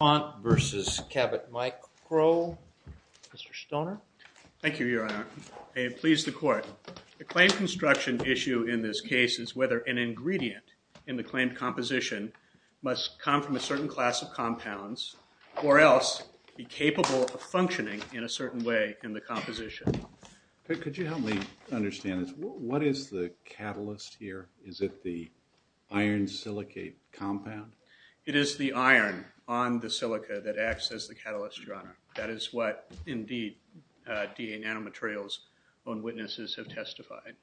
DUPONT vs. CABOT MICRO. Mr. Stoner. Thank you, Your Honor. I am pleased to court. The claim construction issue in this case is whether an ingredient in the claimed composition must come from a certain class of compounds or else be capable of functioning in a certain way in the composition. Could you help me understand this? What is the catalyst here? Is it the iron silicate compound? It is the iron on the silica that acts as the catalyst, Your Honor. That is what, indeed, DA Nanomaterials own witnesses have testified.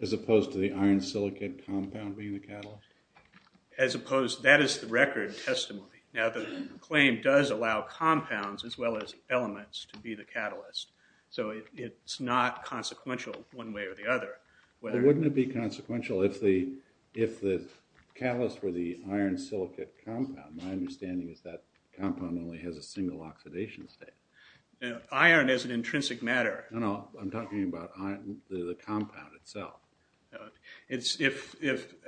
As opposed to the iron silicate compound being the catalyst? As opposed, that is the record testimony. Now the claim does allow compounds as well as elements to be the catalyst, so it's not consequential one way or the other. Well, wouldn't it be consequential if the catalyst were the iron silicate compound? My understanding is that compound only has a single oxidation state. Iron is an intrinsic matter. No, no, I'm talking about the compound itself.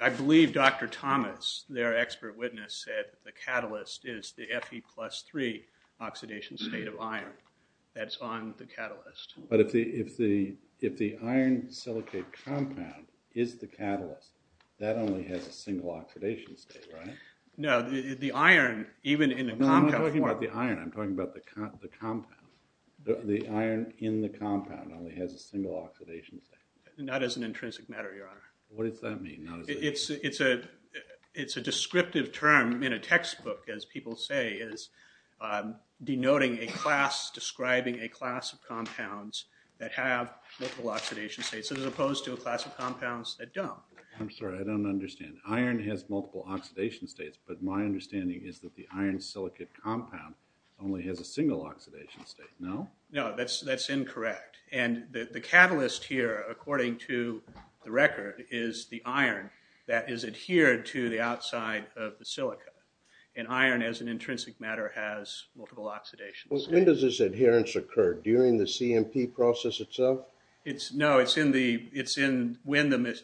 I believe Dr. Thomas, their expert witness, said the catalyst is the Fe plus 3 oxidation state of iron. That's on the catalyst. But if the iron silicate compound is the catalyst, that only has a single oxidation state, right? No, the iron, even in a compound form. No, I'm talking about the iron. I'm talking about the compound. The iron in the compound only has a single oxidation state. Not as an intrinsic matter, Your Honor. What does that mean? It's a descriptive term in a textbook, as people say, is denoting a class, describing a class of compounds that have multiple oxidation states, as opposed to a class of compounds that don't. I'm understanding. Iron has multiple oxidation states, but my understanding is that the iron silicate compound only has a single oxidation state. No? No, that's incorrect. And the catalyst here, according to the record, is the iron that is adhered to the outside of the silica. And iron, as an intrinsic matter, has multiple oxidation states. When does this adherence occur? During the CMP process itself? No, it's in when the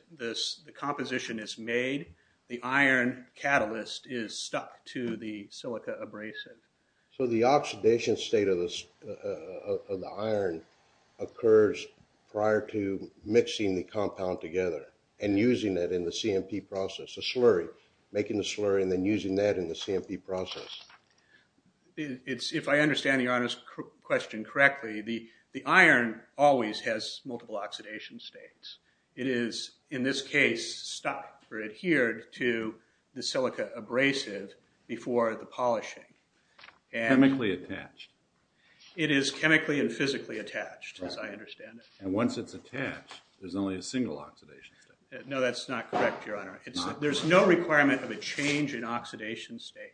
composition is made. The iron catalyst is stuck to the silica abrasive. So the oxidation state of the iron occurs prior to mixing the compound together and using it in the CMP process. A slurry. Making the slurry and then using that in the CMP process. If I understand Your Honor's question correctly, the iron always has multiple oxidation states. It is, in this case, stuck or adhered to the silica abrasive before the polishing. Chemically attached. It is chemically and physically attached, as I understand it. And once it's attached, there's only a single oxidation state. No, that's not correct, Your Honor. There's no requirement of a change in oxidation state.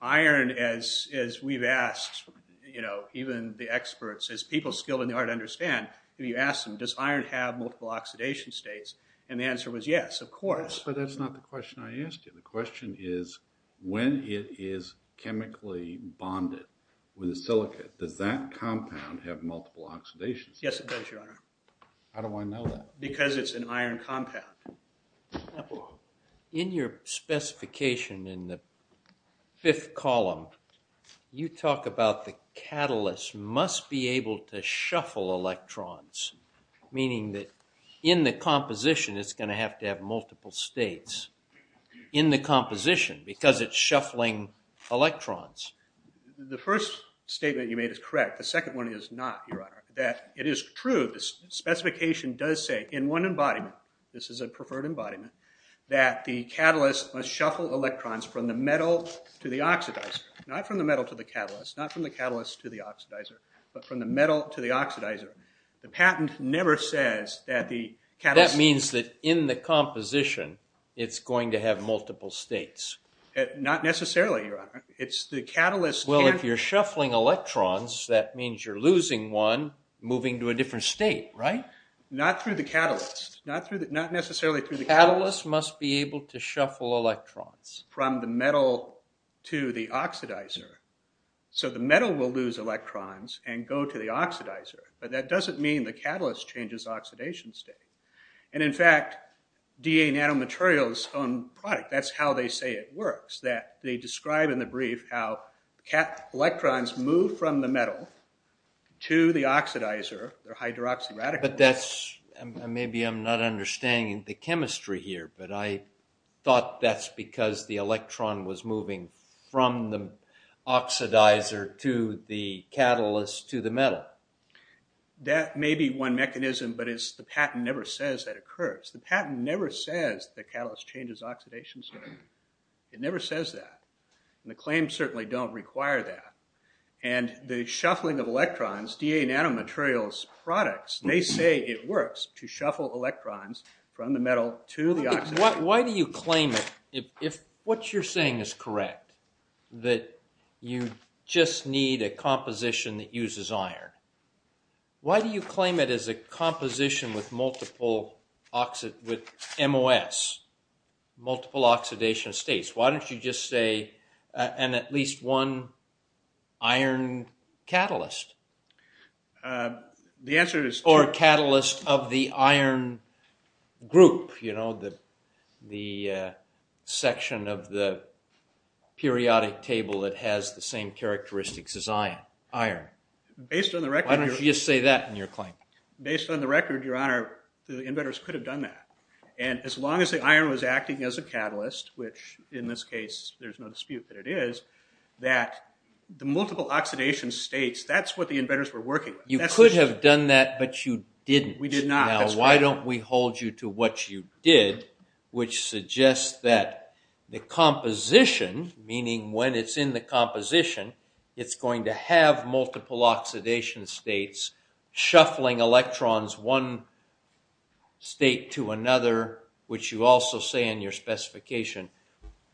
Iron, as we've asked, you know, even the experts, as people skilled in the art understand, if you ask them, does iron have multiple oxidation states? And the answer was yes, of course. But that's not the question I asked you. The question is when it is chemically bonded with the silica, does that compound have multiple oxidation states? Yes, it does, Your Honor. How do I know that? Because it's an iron compound. In your specification in the fifth column, you talk about the catalyst must be able to shuffle electrons, meaning that in the composition it's going to have to have multiple states in the composition because it's shuffling electrons. The first statement you made is correct. The second one is not, Your Honor. This is a preferred embodiment that the catalyst must shuffle electrons from the metal to the oxidizer, not from the metal to the catalyst, not from the catalyst to the oxidizer, but from the metal to the oxidizer. The patent never says that the catalyst... That means that in the composition it's going to have multiple states. Not necessarily, Your Honor. It's the catalyst... Well, if you're shuffling electrons, that means that the catalyst must be able to shuffle electrons from the metal to the oxidizer. So the metal will lose electrons and go to the oxidizer, but that doesn't mean the catalyst changes oxidation state. And in fact, DA Nanomaterials' own product, that's how they say it works, that they describe in the brief how electrons move from the metal to the oxidizer, their I'm not understanding the chemistry here, but I thought that's because the electron was moving from the oxidizer to the catalyst to the metal. That may be one mechanism, but the patent never says that occurs. The patent never says the catalyst changes oxidation state. It never says that. The claims certainly don't require that. And the shuffling of electrons, DA Nanomaterials' products, they say it works to shuffle electrons from the metal to the oxidizer. Why do you claim it, if what you're saying is correct, that you just need a composition that uses iron, why do you claim it as a composition with multiple oxidation states? Why don't you just say, and at least one iron catalyst? The answer is... Or catalyst of the iron group, you know, the section of the periodic table that has the same characteristics as iron. Based on the record... Why don't you just say that in your claim? Based on the record, your honor, the inventors could have done that. And as long as the iron was acting as a catalyst, which in this case there's no dispute that it is, that the multiple oxidation states, that's what the inventors were working with. You could have done that, but you didn't. We did not. Now why don't we hold you to what you did, which suggests that the composition, meaning when it's in the composition, it's going to have multiple oxidation states, shuffling electrons one state to another, which you also say in your specification.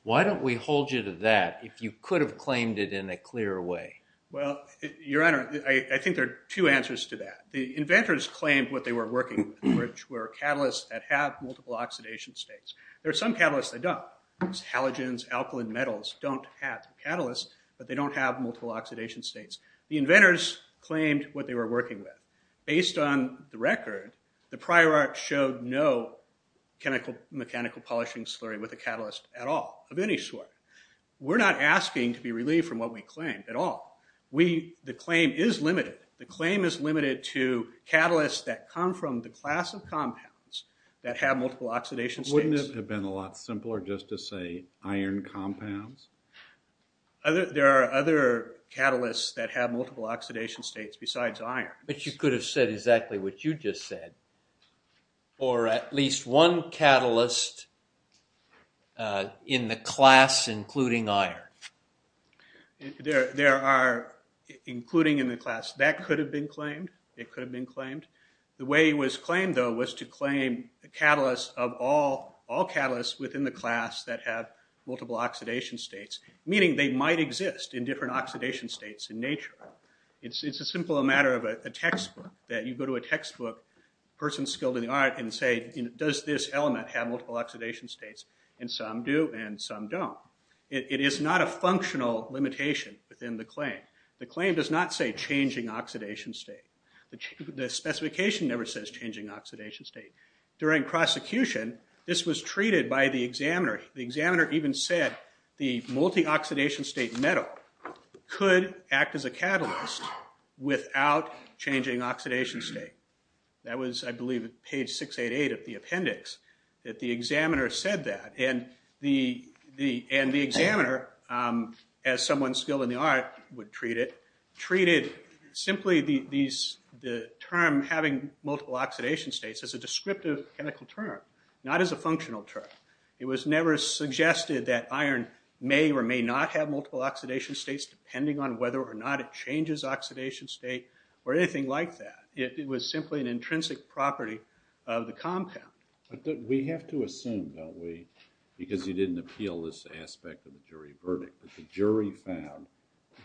Why don't we hold you to that, if you could have claimed it in a clearer way? Well, your honor, I think there are two answers to that. The inventors claimed what they were working with, which were catalysts that have multiple oxidation states. There are some catalysts that don't. Halogens, alkaline metals don't have catalysts, but they don't have multiple oxidation states. The inventors claimed what they were working with. Based on the record, the prior art showed no chemical mechanical polishing slurry with a catalyst at all of any sort. We're not asking to be relieved from what we claimed at all. We, the claim is limited. The claim is limited to catalysts that come from the class of compounds that have multiple oxidation states. Wouldn't it have been a lot simpler just to say iron compounds? Other, there are other catalysts that have multiple oxidation states besides iron. But you could have said exactly what you just said, or at least one catalyst in the class including iron. There are, including in the class, that could have been claimed. It could have been claimed. The way it was claimed, though, was to claim the catalyst of all, all catalysts within the class that have multiple oxidation states, meaning they might exist in different oxidation states in nature. It's a simple matter of a textbook, that you go to a textbook, a person skilled in the art, and say, does this element have multiple oxidation states? And some do and some don't. It is not a functional limitation within the claim. The claim does not say changing oxidation state. The specification never says changing oxidation state. During prosecution, this was treated by the examiner. The examiner even said the multi-oxidation state metal could act as a catalyst without changing oxidation state. That was, I believe, page 688 of the appendix, that the examiner said that. And the examiner, as someone skilled in the art would treat it, treated simply the term having multiple oxidation states as a descriptive chemical term, not as a functional term. It was never suggested that iron may or may not have multiple oxidation states, depending on whether or not it changes oxidation state or anything like that. It was simply an intrinsic property of the compound. We have to assume, don't we, because you didn't appeal this aspect of the jury verdict, that the jury found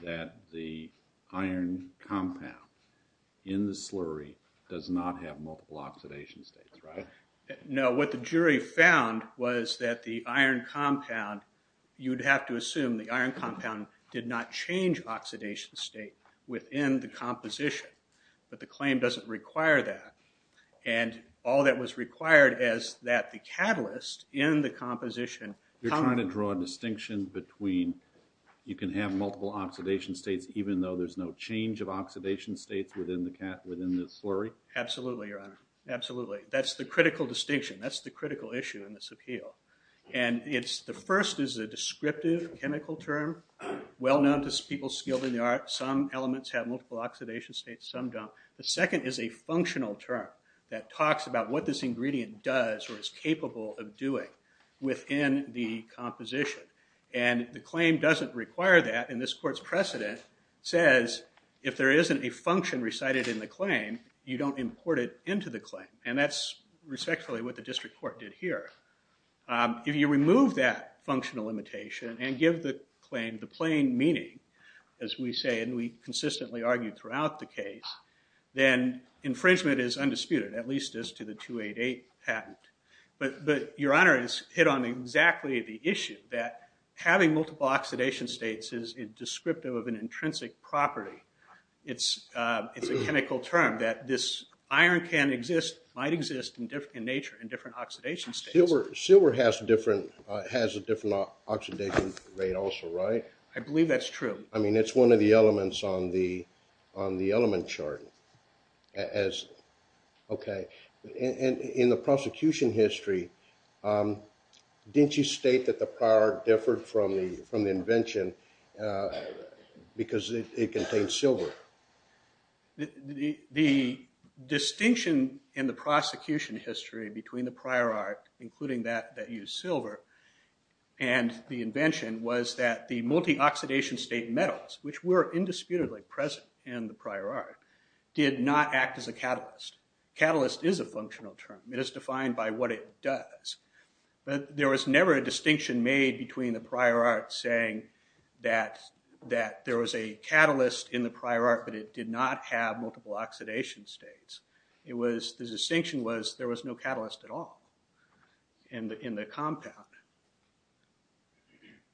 that the iron compound in the slurry does not have multiple oxidation states, right? No, what the jury found was that the iron compound, you'd have to assume the iron compound did not change oxidation state within the composition, but the claim doesn't require that. And all that was required is that the catalyst in the composition... You're trying to draw a distinction between you can have multiple oxidation states even though there's no change of Absolutely. That's the critical distinction. That's the critical issue in this appeal. And it's the first is a descriptive chemical term, well-known to people skilled in the art. Some elements have multiple oxidation states, some don't. The second is a functional term that talks about what this ingredient does or is capable of doing within the composition. And the claim doesn't require that, and this court's precedent says if there isn't a function recited in the claim, you don't import it into the claim. And that's respectfully what the district court did here. If you remove that functional limitation and give the claim the plain meaning, as we say and we consistently argue throughout the case, then infringement is undisputed, at least as to the 288 patent. But Your Honor has hit on exactly the issue that having multiple oxidation states is descriptive of an intrinsic property. It's a chemical term that this iron can exist, might exist, in nature in different oxidation states. Silver has a different oxidation rate also, right? I believe that's true. I mean it's one of the elements on the element chart. Okay, and in the prosecution history, didn't you state that the prior differed from the invention because it contained silver? The distinction in the prosecution history between the prior art, including that that used silver, and the invention was that the multi-oxidation state metals, which were indisputably present in the prior art, did not act as a catalyst. Catalyst is a functional term. It is defined by what it does, but there was never a distinction made between the saying that there was a catalyst in the prior art, but it did not have multiple oxidation states. It was, the distinction was there was no catalyst at all in the compound.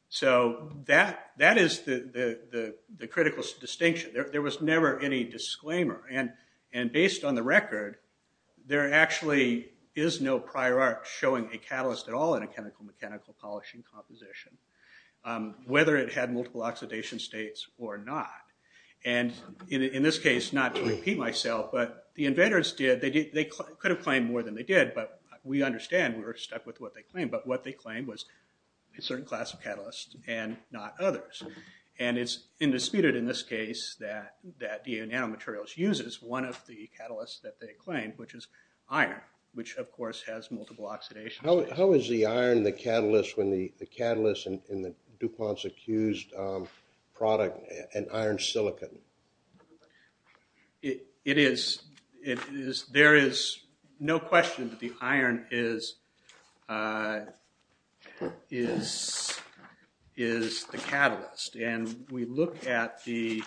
So that is the critical distinction. There was never any disclaimer, and based on the record, there actually is no prior art showing a whether it had multiple oxidation states or not. And in this case, not to repeat myself, but the inventors did, they could have claimed more than they did, but we understand we were stuck with what they claimed, but what they claimed was a certain class of catalysts and not others. And it's indisputed in this case that DNA Nanomaterials uses one of the catalysts that they claimed, which is iron, which of course has multiple oxidation states. How is the iron the catalyst when the catalyst in the DuPont's accused product, an iron silicon? It is, it is, there is no question that the iron is, is, is the catalyst. And we look at the,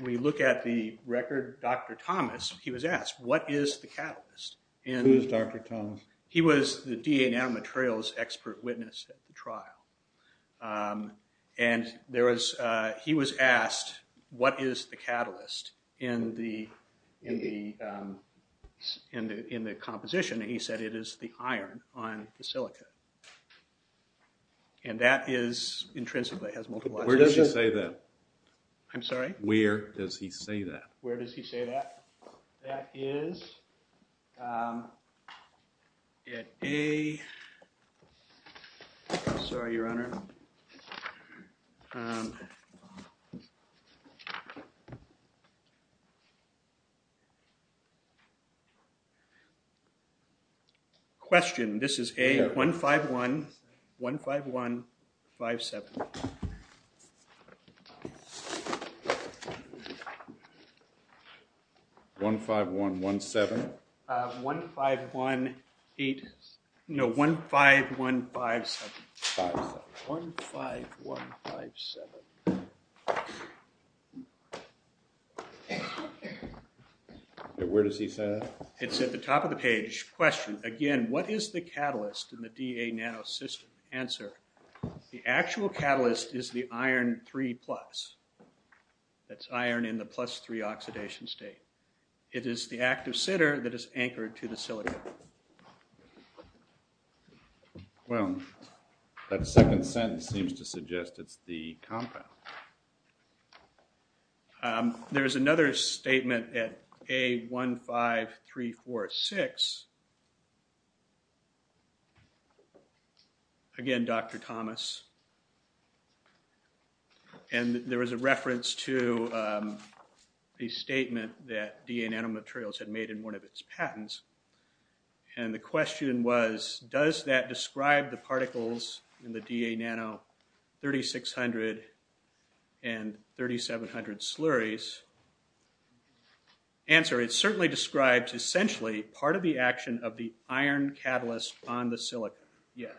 we look at the record, Dr. Thomas, he was asked what is the catalyst? Who's Dr. Thomas? He was the DNA Nanomaterials expert witness at the trial, and there was, he was asked what is the catalyst in the, in the, in the composition, and he said it is the iron on the silica. And that is intrinsically, has multiple oxidation states. Where does he say that? I'm sorry? Where does he say that? Where does he say that? That is at A, sorry your honor, Question, this is A, 151, 151, 57. 151, 17. 151, 8, no, 15157. 15157. Where does he say that? It's at the top of the page. Question, again, what is the catalyst in the DA nano system? Answer, the actual catalyst is the iron 3 plus. That's iron in the plus 3 oxidation state. It is the active sitter that is anchored to the silica. Well, that second sentence seems to suggest it's the compound. There is another statement at A15346. Again, Dr. Thomas, and there was a reference to the statement that DA nano materials had made in one of its patents. And the question was, does that describe the particles in the DA nano 3600 and 3700 slurries? Answer, it certainly describes essentially part of the action of the iron catalyst on the silica. Yes.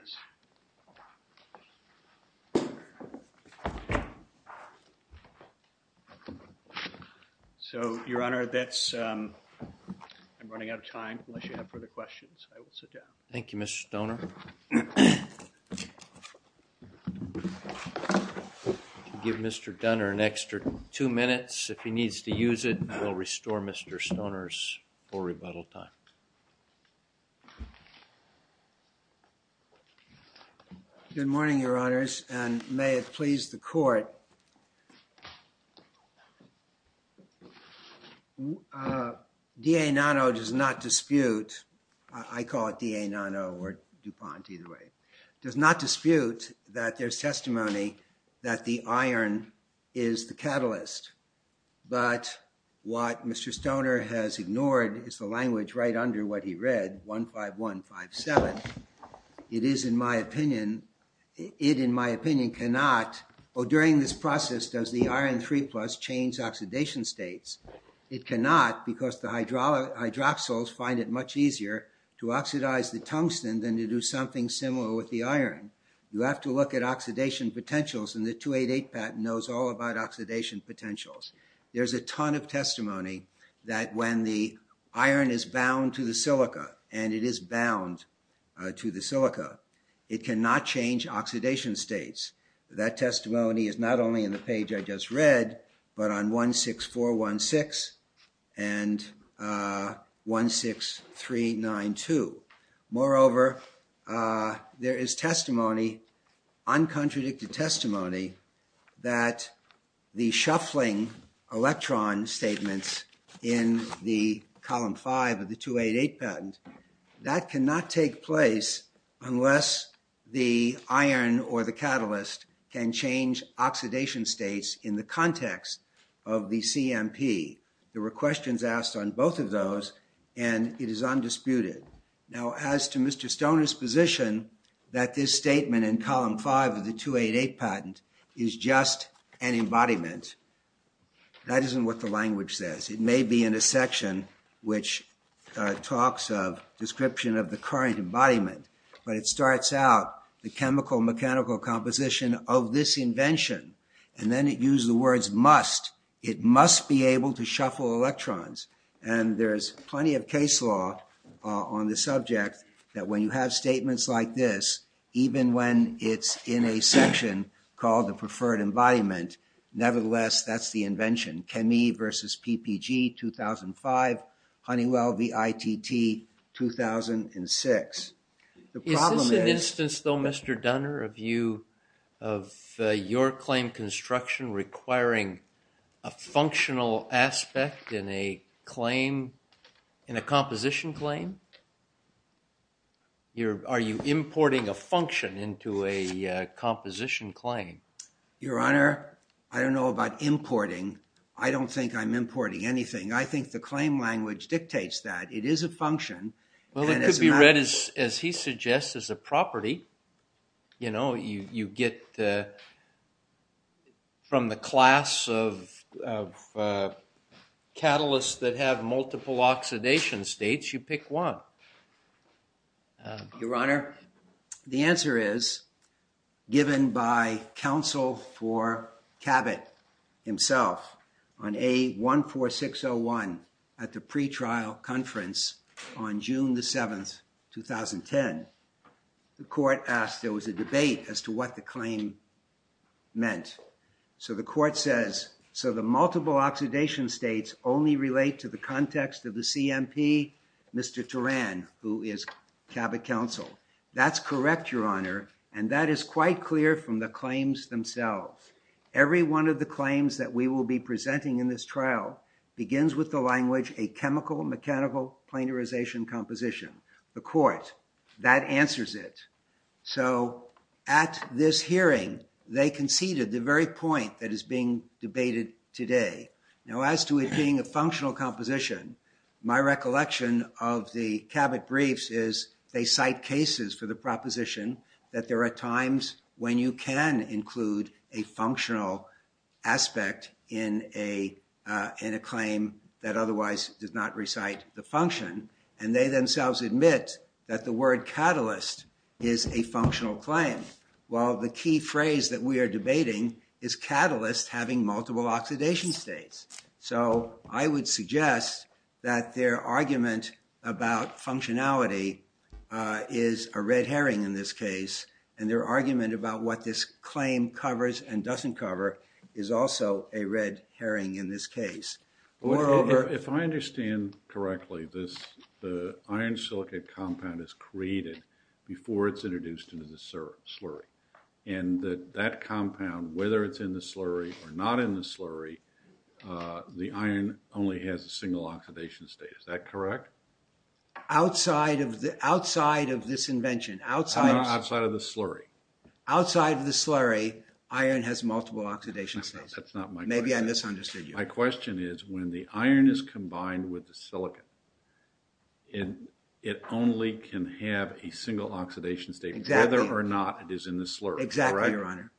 So, your honor, that's, I'm running out of time. Thank you, Mr. Stoner. Give Mr. Dunner an extra two minutes if he needs to use it. I will restore Mr. Stoner's full rebuttal time. Good morning, your honors, and may it please the court. DA nano does not dispute, I call it DA nano or DuPont either way, does not dispute that there's testimony that the iron is the catalyst. But what Mr. Stoner has ignored is the language right under what he read, 15157. It is in my opinion, it in my opinion cannot, or during this process does the iron 3 plus change oxidation states? It cannot because the hydroxyls find it much easier to oxidize the tungsten than to do something similar with the iron. You have to look at oxidation potentials and the 288 patent knows all about oxidation potentials. There's a ton of testimony that when the iron is bound to the silica, and it is bound to the silica, it cannot change oxidation states. That testimony is not only in the page I just read, but on 16416 and 16392. Moreover, there is testimony, uncontradicted testimony, that the shuffling electron statements in the column 5 of the 288 patent, that cannot take place unless the iron or the catalyst can change oxidation states in the context of the CMP. There were questions asked on both of those and it is undisputed. Now as to Mr. Stoner's position that this statement in column 5 of the 288 patent is just an embodiment, that isn't what the language says. It may be in a section which talks of description of the current embodiment, but it starts out the chemical mechanical composition of this invention and then it uses the words must. It must be able to shuffle electrons and there's plenty of case law on the subject that when you have statements like this, even when it's in a section called the preferred embodiment, nevertheless that's the invention. ChemE versus PPG 2005, Honeywell v. ITT 2006. Is this an instance though Mr. Dunner of you, of your claim construction requiring a functional aspect in a claim, in a composition claim? Are you importing a function into a composition claim? Your Honor, I don't know about importing. I don't think I'm importing anything. I think the claim language dictates that. It is a function. Well it could be read as he suggests, as a property. You know, you get from the class of catalysts that have multiple oxidation states, you pick one. Your Honor, the answer is given by counsel for Cabot himself on A14601 at the pretrial conference on June the 7th, 2010. The court asked, there was a debate as to what the claim meant. So the court says, so the multiple oxidation states only relate to the context of the CMP, Mr. Turan, who is Cabot counsel. That's correct, Your Honor, and that is quite clear from the claims themselves. Every one of the claims that we will be presenting in this trial begins with the language a chemical mechanical planarization composition. The court, that answers it. So at this hearing, they conceded the very point that is being debated today. Now as to it being a functional composition, my recollection of the Cabot briefs is they cite cases for the proposition that there are times when you can include a functional aspect in a claim that otherwise does not recite the function, and they themselves admit that the word catalyst is a functional claim. Well, the key phrase that we are debating is catalyst having multiple oxidation states. So I would suggest that their argument about what this claim covers and doesn't cover is also a red herring in this case. Moreover, if I understand correctly, this the iron silicate compound is created before it's introduced into the slurry, and that that compound, whether it's in the slurry or not in the slurry, the iron only has a single oxidation state. Is that correct? Outside of the, outside of this invention, outside, outside of the slurry, iron has multiple oxidation states. That's not my question. Maybe I misunderstood you. My question is when the iron is combined with the silicon, it only can have a single oxidation state, whether or not it is in the slurry. Exactly, Your Honor.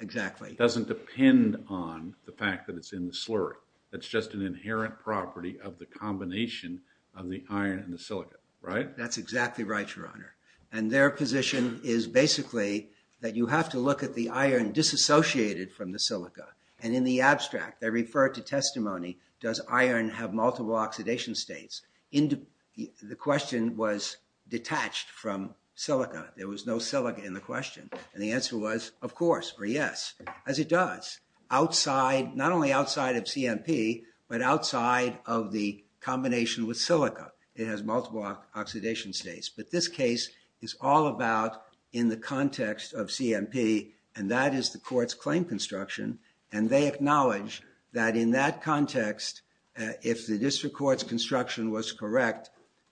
Exactly. It doesn't depend on the fact that it's in the slurry. It's just an inherent property of the combination of the iron and the silicate, right? That's exactly right, Your Honor, and their position is basically that you have to look at the iron disassociated from the silica, and in the abstract, they refer to testimony, does iron have multiple oxidation states? The question was detached from silica. There was no silica in the question, and the answer was, of course, or yes, as it does. Outside, not only outside of CMP, but outside of the combination with silica, it has multiple oxidation states, but what this case is all about in the context of CMP, and that is the court's claim construction, and they acknowledge that in that context, if the district court's construction was correct,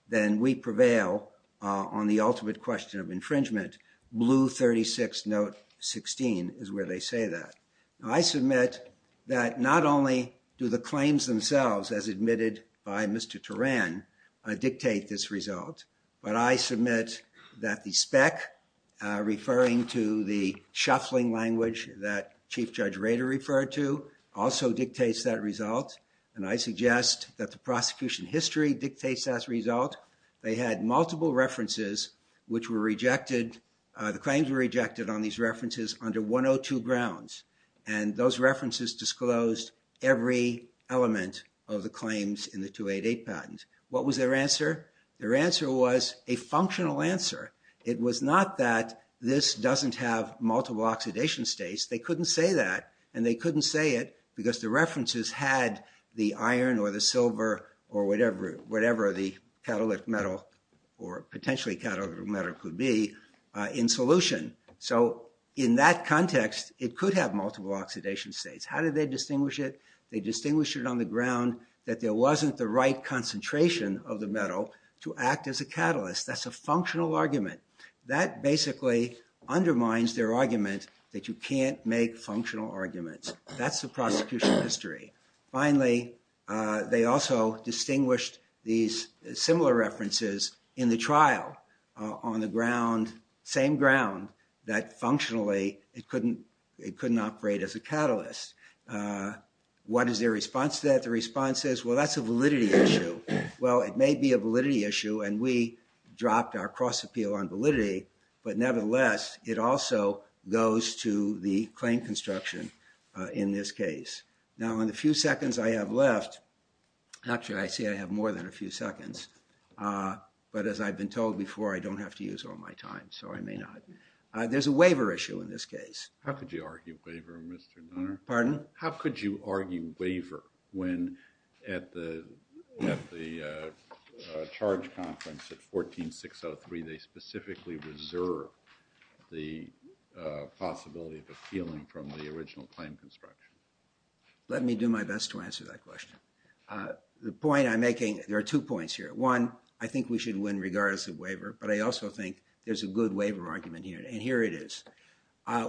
then we prevail on the ultimate question of infringement. Blue 36, note 16 is where they say that. I submit that not only do the claims themselves, as admitted by Mr. Turan, dictate this result, but I submit that the spec, referring to the shuffling language that Chief Judge Rader referred to, also dictates that result, and I suggest that the prosecution history dictates that result. They had multiple references which were rejected, the claims were rejected on these references under 102 grounds, and those references disclosed every element of the claims in the 288 patent. What was their answer? Their answer was a functional answer. It was not that this doesn't have multiple oxidation states. They couldn't say that, and they couldn't say it because the references had the iron, or the silver, or whatever the catalytic metal, or potentially catalytic metal could be, in solution. So in that context, it could have multiple oxidation states. How did they distinguish it? They wasn't the right concentration of the metal to act as a catalyst. That's a functional argument. That basically undermines their argument that you can't make functional arguments. That's the prosecution history. Finally, they also distinguished these similar references in the trial on the ground, same ground, that functionally it couldn't, it couldn't operate as a catalyst. What is their response to that? The response is, well that's a validity issue. Well, it may be a validity issue, and we dropped our cross-appeal on validity, but nevertheless it also goes to the claim construction in this case. Now in the few seconds I have left, actually I see I have more than a few seconds, but as I've been told before, I don't have to use all my time, so I may not. There's a waiver issue in this case. How could you argue waiver when at the charge conference at 14603 they specifically reserve the possibility of appealing from the original claim construction? Let me do my best to answer that question. The point I'm making, there are two points here. One, I think we should win regardless of waiver, but I also think there's a good waiver argument here, and here it is.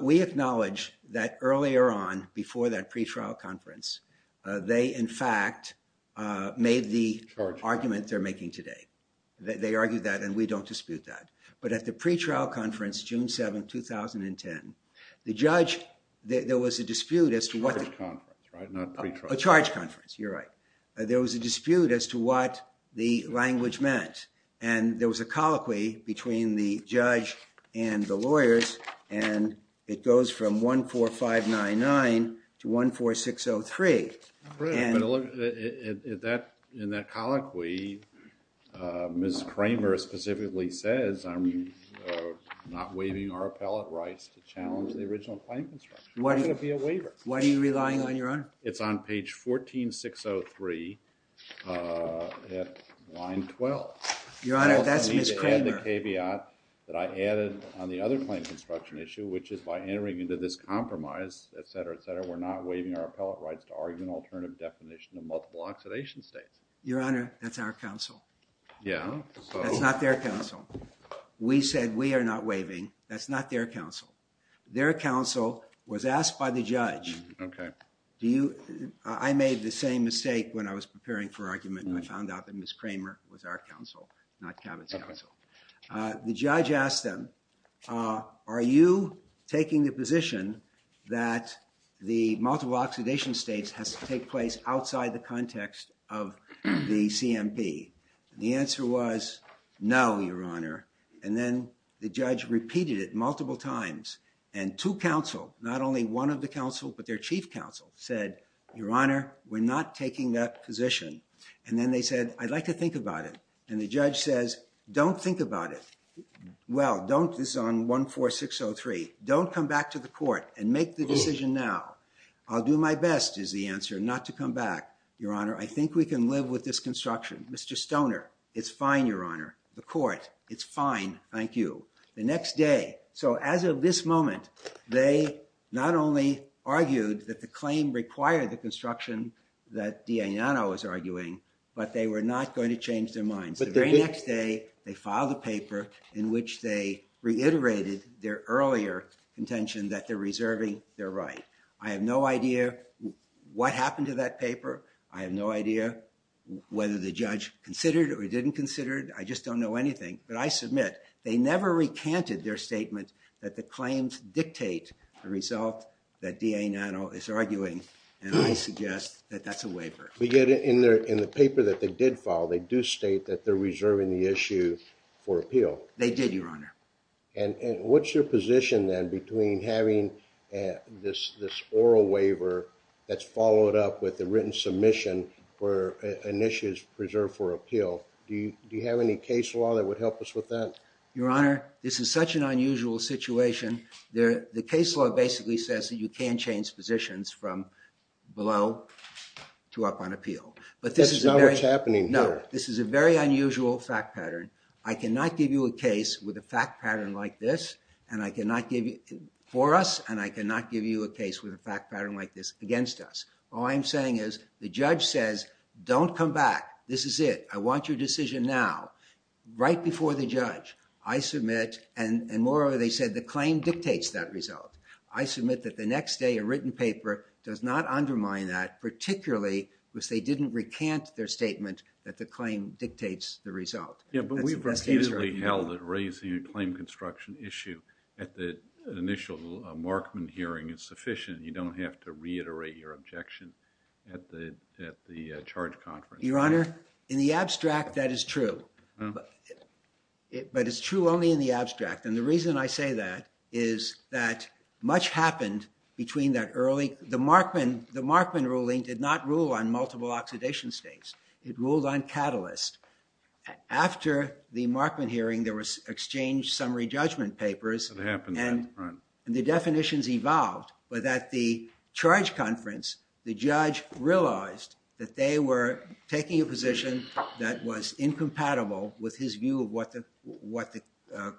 We acknowledge that earlier on, before that pretrial conference, they in fact made the argument they're making today. They argued that, and we don't dispute that, but at the pretrial conference, June 7, 2010, the judge, there was a dispute as to what the charge conference, you're right, there was a dispute as to what the and it goes from 14599 to 14603. In that colloquy, Ms. Kramer specifically says I'm not waiving our appellate rights to challenge the original claim construction. Why should it be a waiver? Why are you relying on your honor? It's on page 14603 at line 12. Your honor, that's Ms. Kramer. I had the caveat that I added on the other claim construction issue, which is by entering into this compromise, etc., etc., we're not waiving our appellate rights to argue an alternative definition of multiple oxidation states. Your honor, that's our counsel. Yeah. That's not their counsel. We said we are not waiving. That's not their counsel. Their counsel was asked by the judge. Okay. Do you, I made the same mistake when I was preparing for argument, and I found out that Ms. Kramer was our counsel, not Cabot's counsel. The judge asked them, are you taking the position that the multiple oxidation states has to take place outside the context of the CMP? The answer was no, your honor, and then the judge repeated it multiple times, and two counsel, not only one of the counsel, but their chief counsel said, your honor, we're not taking that position, and then they said, I'd like to think about it, and the judge says, don't think about it. Well, don't, this is on 14603, don't come back to the court and make the decision now. I'll do my best, is the answer, not to come back. Your honor, I think we can live with this construction. Mr. Stoner, it's fine, your honor. The court, it's fine. Thank you. The next day, so as of this moment, they not only argued that the claim required the construction that D.A. Nano is arguing, but they were not going to change their minds. The very next day, they filed a paper in which they reiterated their earlier contention that they're reserving their right. I have no idea what happened to that paper. I have no idea whether the judge considered it or didn't consider it. I just don't know anything, but I submit they never recanted their statement that the claims dictate the result that D.A. Nano is arguing, and I suggest that that's a waiver. We get it in there, in the paper that they did file, they do state that they're reserving the issue for appeal. They did, your honor. And what's your position then between having this, this oral waiver that's followed up with the written submission where an issue is preserved for appeal? Do you, do you have any case law that would help us with that? Your honor, this is such an unusual situation there. The case law basically says that you can't change positions from below to up on appeal. But this is a very... That's not what's happening here. No, this is a very unusual fact pattern. I cannot give you a case with a fact pattern like this, and I cannot give you, for us, and I cannot give you a case with a fact pattern like this against us. All I'm saying is, the judge says, don't come back. This is it. I want your decision now, right before the judge. I submit, and moreover, they said the claim dictates that result. I submit that the next day, a written paper does not undermine that, particularly because they didn't recant their statement that the claim dictates the result. Yeah, but we've repeatedly held that raising a claim construction issue at the initial Markman hearing is sufficient. You don't have to reiterate your objection at the, at the charge conference. Your honor, in the abstract, that is true, but it's true only in the abstract. And the reason I say that is that much happened between that early... The Markman, the Markman ruling did not rule on multiple oxidation states. It ruled on catalyst. After the Markman hearing, there was exchange summary judgment papers, and the definitions evolved, but at the charge conference, the judge realized that they were taking a position that was incompatible with his view of what the, what the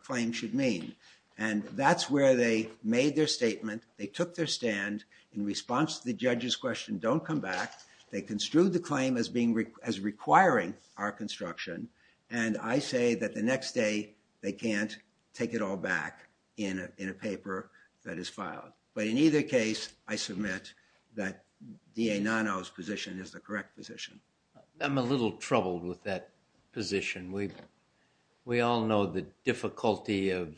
claim should mean. And that's where they made their statement. They took their stand in response to the judge's question, don't come back. They construed the claim as being, as requiring our construction, and I say that the next day, they can't take it all back in a, in a paper that is filed. But in either case, I submit that DA Nono's position is the correct position. I'm a little troubled with that position. We, we all know the difficulty of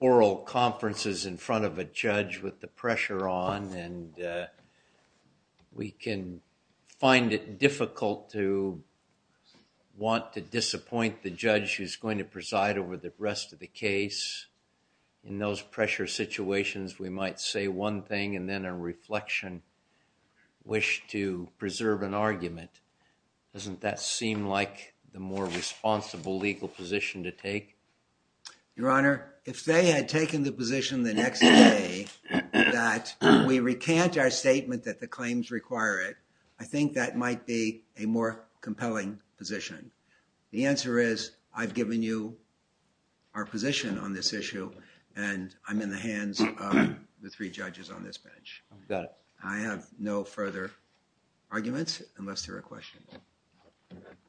oral conferences in front of a judge with the pressure on, and we can find it difficult to want to disappoint the judge who's going to preside over the rest of the case. In those pressure situations, we might say one thing and then a reflection, wish to preserve an argument. Doesn't that seem like the more responsible legal position to take? Your Honor, if they had taken the position the next day that we recant our statement that the claims require it, I think that might be a more compelling position. The answer is, I've given you our position on this issue, and I'm in the hands of the three judges on this bench. I have no further arguments unless there are questions.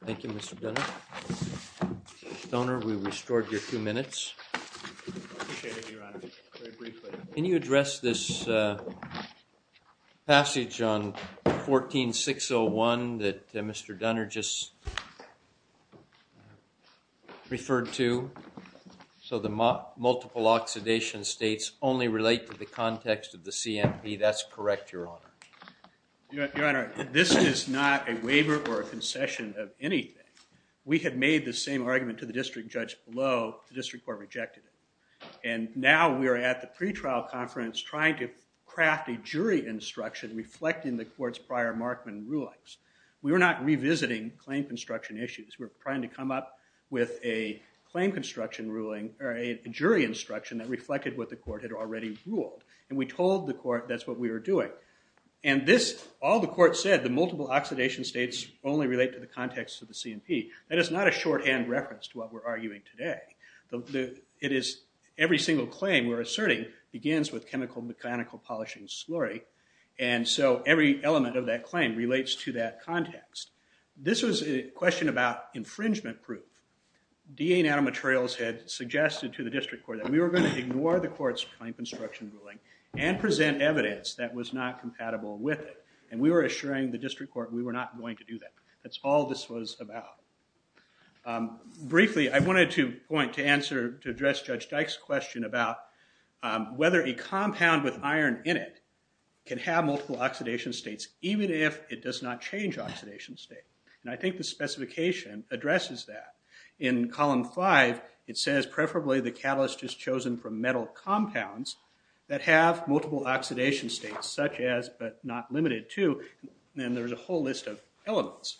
Thank you, Mr. Dunner. Mr. Dunner, we restored your two minutes. I appreciate it, Your Honor. Very briefly. Can you address this passage on 14-601 that Mr. Dunner just referred to, so the multiple oxidation states only relate to the context of the CMP? That's correct, Your Honor. Your Honor, this is not a waiver or a concession of anything. We had made the same argument to the district judge below. The district court rejected it, and now we are at the pretrial conference trying to craft a jury instruction reflecting the court's prior Markman rulings. We were not revisiting claim construction issues. We were trying to come up with a jury instruction that reflected what the court had already ruled, and we told the court that's what we were doing. All the court said, the multiple oxidation states only relate to the context of the CMP. That is not a shorthand reference to what we're arguing today. Every single claim we're asserting begins with chemical mechanical polishing slurry, and so every element of that claim relates to that context. This was a question about infringement proof. DA Nanomaterials had suggested to the district court that we were going to ignore the court's claim construction ruling and present evidence that was not compatible with it, and we were assuring the district court we were not going to do that. That's all this was about. Briefly, I wanted to point to address Judge Dyke's question about whether a compound with iron in it can have multiple oxidation states, even if it does not change oxidation state. I think the specification addresses that. In column five, it says preferably the catalyst is chosen from metal compounds that have multiple oxidation states, such as, but not limited to, and then there's a whole list of elements,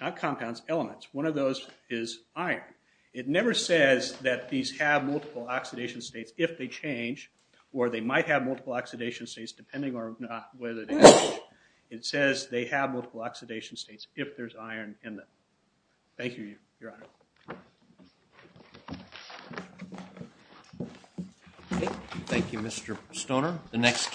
not compounds, elements. One of those is iron. It never says that these have multiple oxidation states if they change, or they might have multiple oxidation states depending on whether they change. It says they have multiple oxidation states if there's iron in them. Thank you, Your Honor. Thank you, Mr. Stoner.